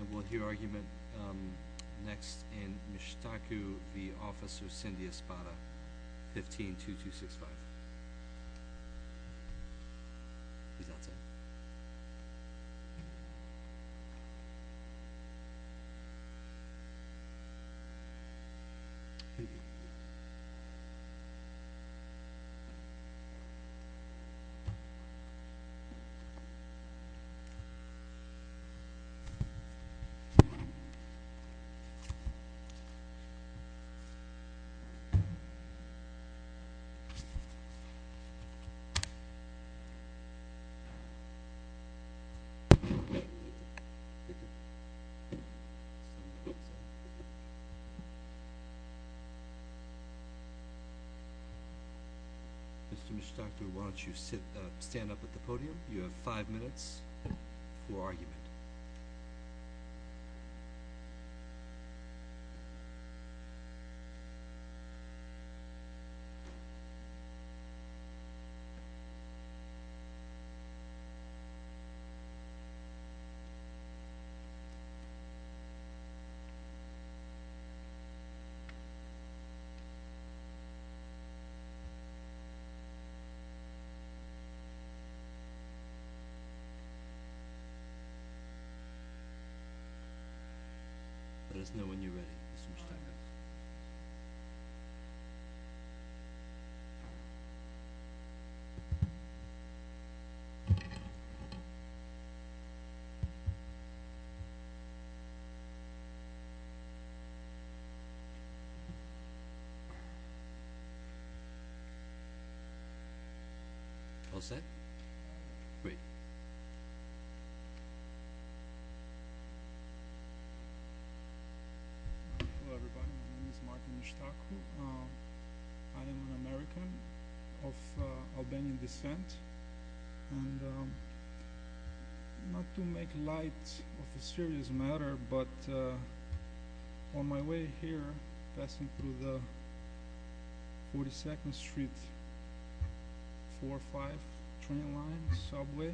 And we'll hear argument next in Mishtaku v. Officer Cindy Espada, 15-2265. Mr. Mishtaku, why don't you stand up at the podium? You have five minutes for argument. Let us know when you're ready, Mr. Mishtaku. All set? Great. Hello, everybody. My name is Martin Mishtaku. I am an American of Albanian descent. And not to make light of a serious matter, but on my way here, passing through the 42nd Street 4-5 train line subway,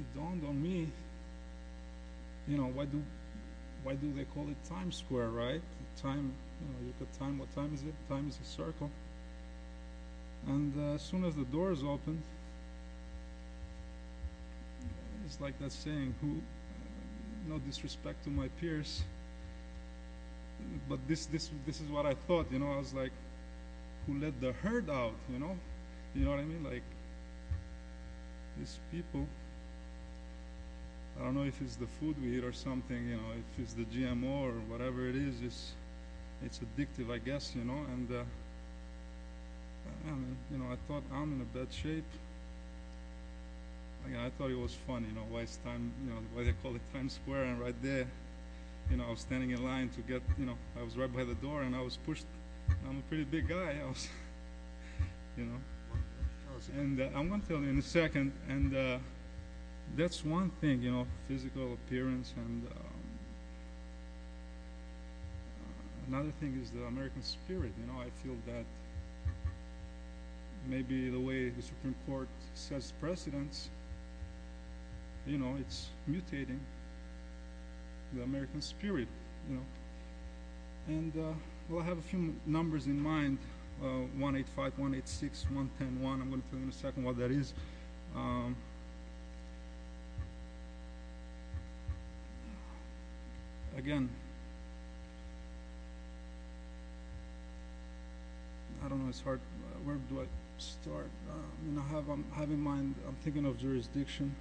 it dawned on me, you know, why do they call it Times Square, right? Time, what time is it? Time is a circle. And as soon as the doors opened, it's like that saying, no disrespect to my peers, but this is what I thought. You know, I was like, who let the herd out, you know? You know what I mean? Like, these people. I don't know if it's the food we eat or something, you know, if it's the GMO or whatever it is. It's addictive, I guess, you know. And, you know, I thought I'm in a bad shape. I thought it was funny, you know, why they call it Times Square. And right there, you know, I was standing in line to get, you know, I was right by the door and I was pushed. I'm a pretty big guy, you know, and I'm going to tell you in a second. And that's one thing, you know, physical appearance. And another thing is the American spirit. You know, I feel that maybe the way the Supreme Court says precedence, you know, it's mutating, the American spirit, you know. And, well, I have a few numbers in mind, 185, 186, 110, 1. I'm going to tell you in a second what that is. Again, I don't know, it's hard. Where do I start? You know, I have in mind, I'm thinking of jurisdiction.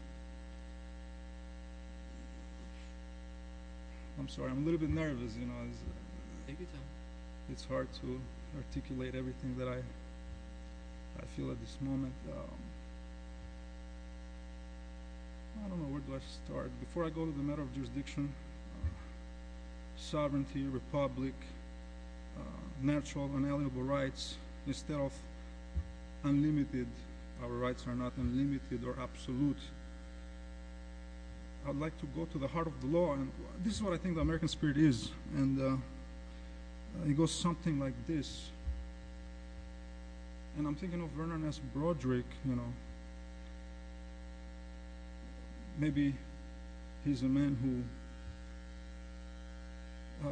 I'm sorry, I'm a little bit nervous, you know. It's hard to articulate everything that I feel at this moment. I don't know, where do I start? Before I go to the matter of jurisdiction, sovereignty, republic, natural, unalienable rights, instead of unlimited. Our rights are not unlimited or absolute. I'd like to go to the heart of the law, and this is what I think the American spirit is. And it goes something like this. And I'm thinking of Vernon S. Broderick, you know. Maybe he's a man who,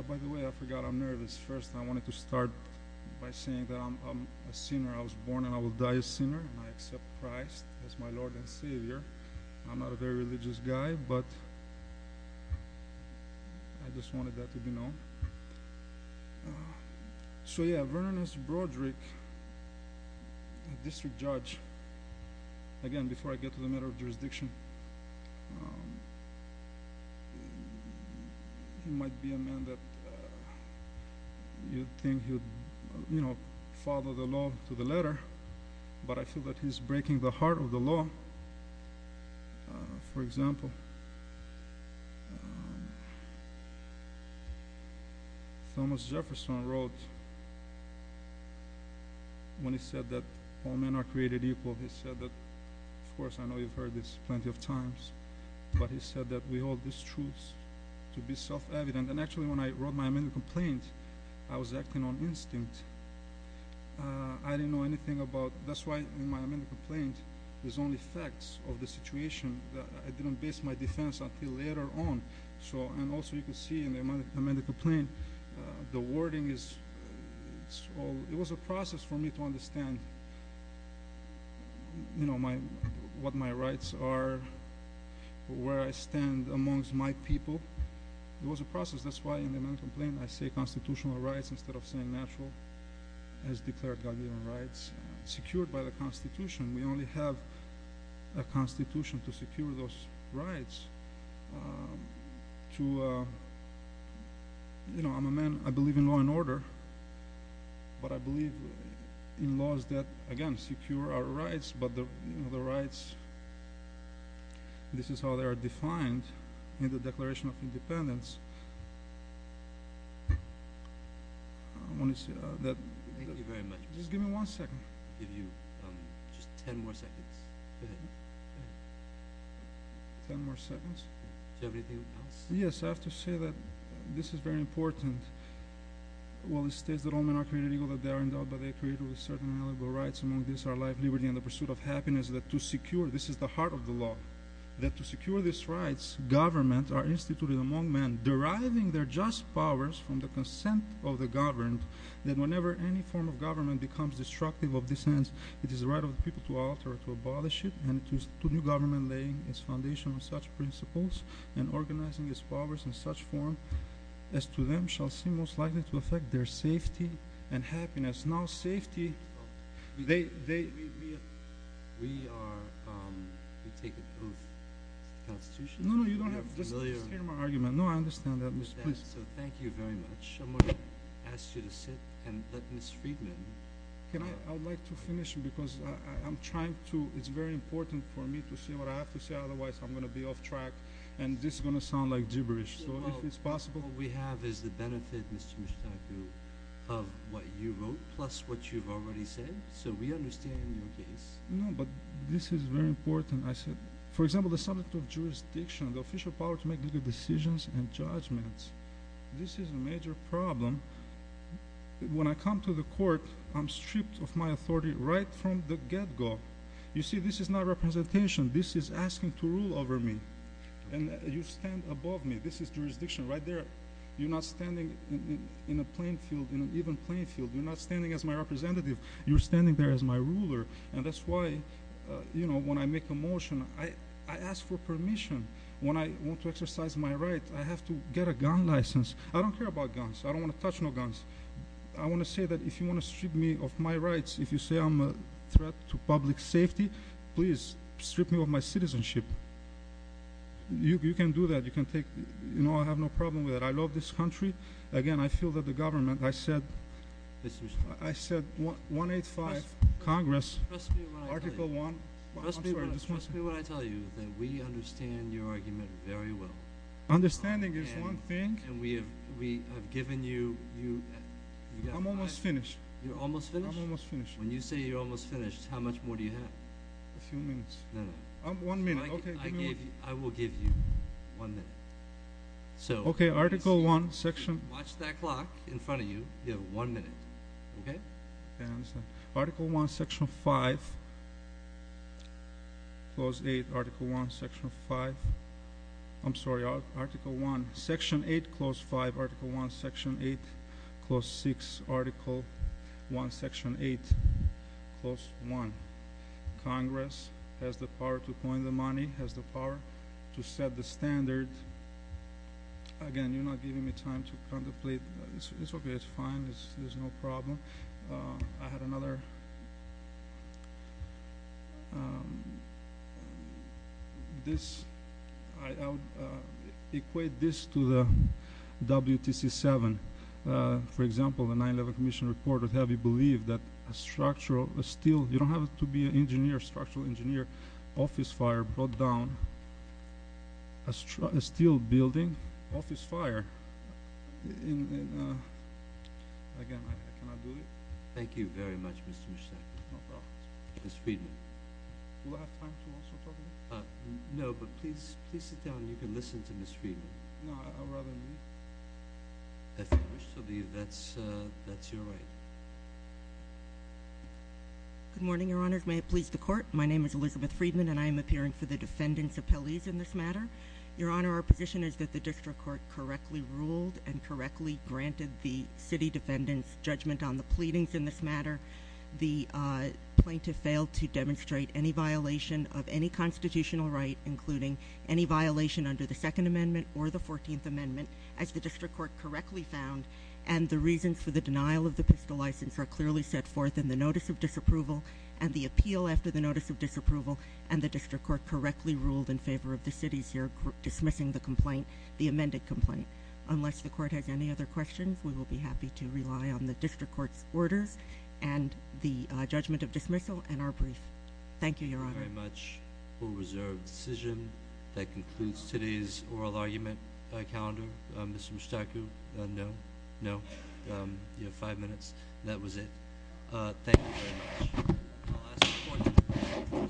by the way, I forgot I'm nervous. I guess first I wanted to start by saying that I'm a sinner. I was born and I will die a sinner, and I accept Christ as my Lord and Savior. I'm not a very religious guy, but I just wanted that to be known. So yeah, Vernon S. Broderick, district judge. Again, before I get to the matter of jurisdiction, he might be a man that you'd think he'd, you know, follow the law to the letter. But I feel that he's breaking the heart of the law. For example, Thomas Jefferson wrote, when he said that all men are created equal, he said that, of course, I know you've heard this plenty of times, but he said that we hold this truth to be self-evident. And actually, when I wrote my amendment complaint, I was acting on instinct. I didn't know anything about—that's why in my amendment complaint, there's only facts of the situation. I didn't base my defense until later on. And also, you can see in the amendment complaint, the wording is—it was a process for me to understand, you know, what my rights are, where I stand amongst my people. It was a process. That's why in the amendment complaint, I say constitutional rights instead of saying natural, as declared by human rights, secured by the Constitution. We only have a Constitution to secure those rights to—you know, I'm a man—I believe in law and order. But I believe in laws that, again, secure our rights, but the rights—this is how they are defined in the Declaration of Independence. I want to say that— Thank you very much. Just give me one second. I'll give you just ten more seconds. Ten more seconds? Do you have anything else? Yes, I have to say that this is very important. Well, it states that all men are created equal, that they are endowed by their Creator with certain inalienable rights. Among these are life, liberty, and the pursuit of happiness. That to secure—this is the heart of the law—that to secure these rights, governments are instituted among men, deriving their just powers from the consent of the governed. That whenever any form of government becomes destructive of this end, it is the right of the people to alter or to abolish it. And it is to new government laying its foundation on such principles and organizing its powers in such form as to them shall seem most likely to affect their safety and happiness. Now, safety— We are—we take an oath to the Constitution. No, no, you don't have to—just hear my argument. No, I understand that. So, thank you very much. I'm going to ask you to sit and let Ms. Friedman— Can I—I would like to finish because I'm trying to—it's very important for me to say what I have to say. Otherwise, I'm going to be off track, and this is going to sound like gibberish. So, if it's possible— All we have is the benefit, Mr. Mishtaku, of what you wrote plus what you've already said. So, we understand your case. No, but this is very important. I said—for example, the subject of jurisdiction, the official power to make legal decisions and judgments. This is a major problem. When I come to the court, I'm stripped of my authority right from the get-go. You see, this is not representation. This is asking to rule over me. And you stand above me. This is jurisdiction right there. You're not standing in a playing field, in an even playing field. You're not standing as my representative. You're standing there as my ruler. And that's why, you know, when I make a motion, I ask for permission. When I want to exercise my right, I have to get a gun license. I don't care about guns. I don't want to touch no guns. I want to say that if you want to strip me of my rights, if you say I'm a threat to public safety, please strip me of my citizenship. You can do that. You can take—you know, I have no problem with that. I love this country. Again, I feel that the government—I said— Mr. Mishtaku. I said 185, Congress, Article 1— Trust me when I tell you that we understand your argument very well. Understanding is one thing. And we have given you— I'm almost finished. You're almost finished? I'm almost finished. When you say you're almost finished, how much more do you have? A few minutes. No, no. One minute. Okay, give me one minute. I will give you one minute. Okay, Article 1, Section— Watch that clock in front of you. You have one minute. Okay? Article 1, Section 5. Clause 8, Article 1, Section 5. I'm sorry. Article 1, Section 8, Clause 5. Article 1, Section 8, Clause 6. Article 1, Section 8, Clause 1. Congress has the power to coin the money, has the power to set the standard. Again, you're not giving me time to contemplate. It's okay. It's fine. There's no problem. I had another— This—I would equate this to the WTC-7. For example, the 9-Level Commission report would have you believe that a structural steel— you don't have to be an engineer, structural engineer—office fire brought down a steel building. Again, can I do it? Thank you very much, Mr. Mushtaq. No problem. Ms. Friedman. Do I have time to also talk to you? No, but please sit down. You can listen to Ms. Friedman. No, I'd rather leave. If you wish to leave, that's your right. Good morning, Your Honor. May it please the Court. My name is Elizabeth Friedman, and I am appearing for the defendants' appellees in this matter. Your Honor, our position is that the district court correctly ruled and correctly granted the city defendants' judgment on the pleadings in this matter. The plaintiff failed to demonstrate any violation of any constitutional right, including any violation under the Second Amendment or the Fourteenth Amendment, as the district court correctly found, and the reasons for the denial of the pistol license are clearly set forth in the notice of disapproval and the appeal after the notice of disapproval, and the district court correctly ruled in favor of the city's dismissing the complaint, the amended complaint. Unless the court has any other questions, we will be happy to rely on the district court's orders and the judgment of dismissal and our brief. Thank you, Your Honor. Thank you very much. We'll reserve the decision. That concludes today's oral argument calendar. Mr. Mushtaq, no? No? You have five minutes. That was it. Thank you very much.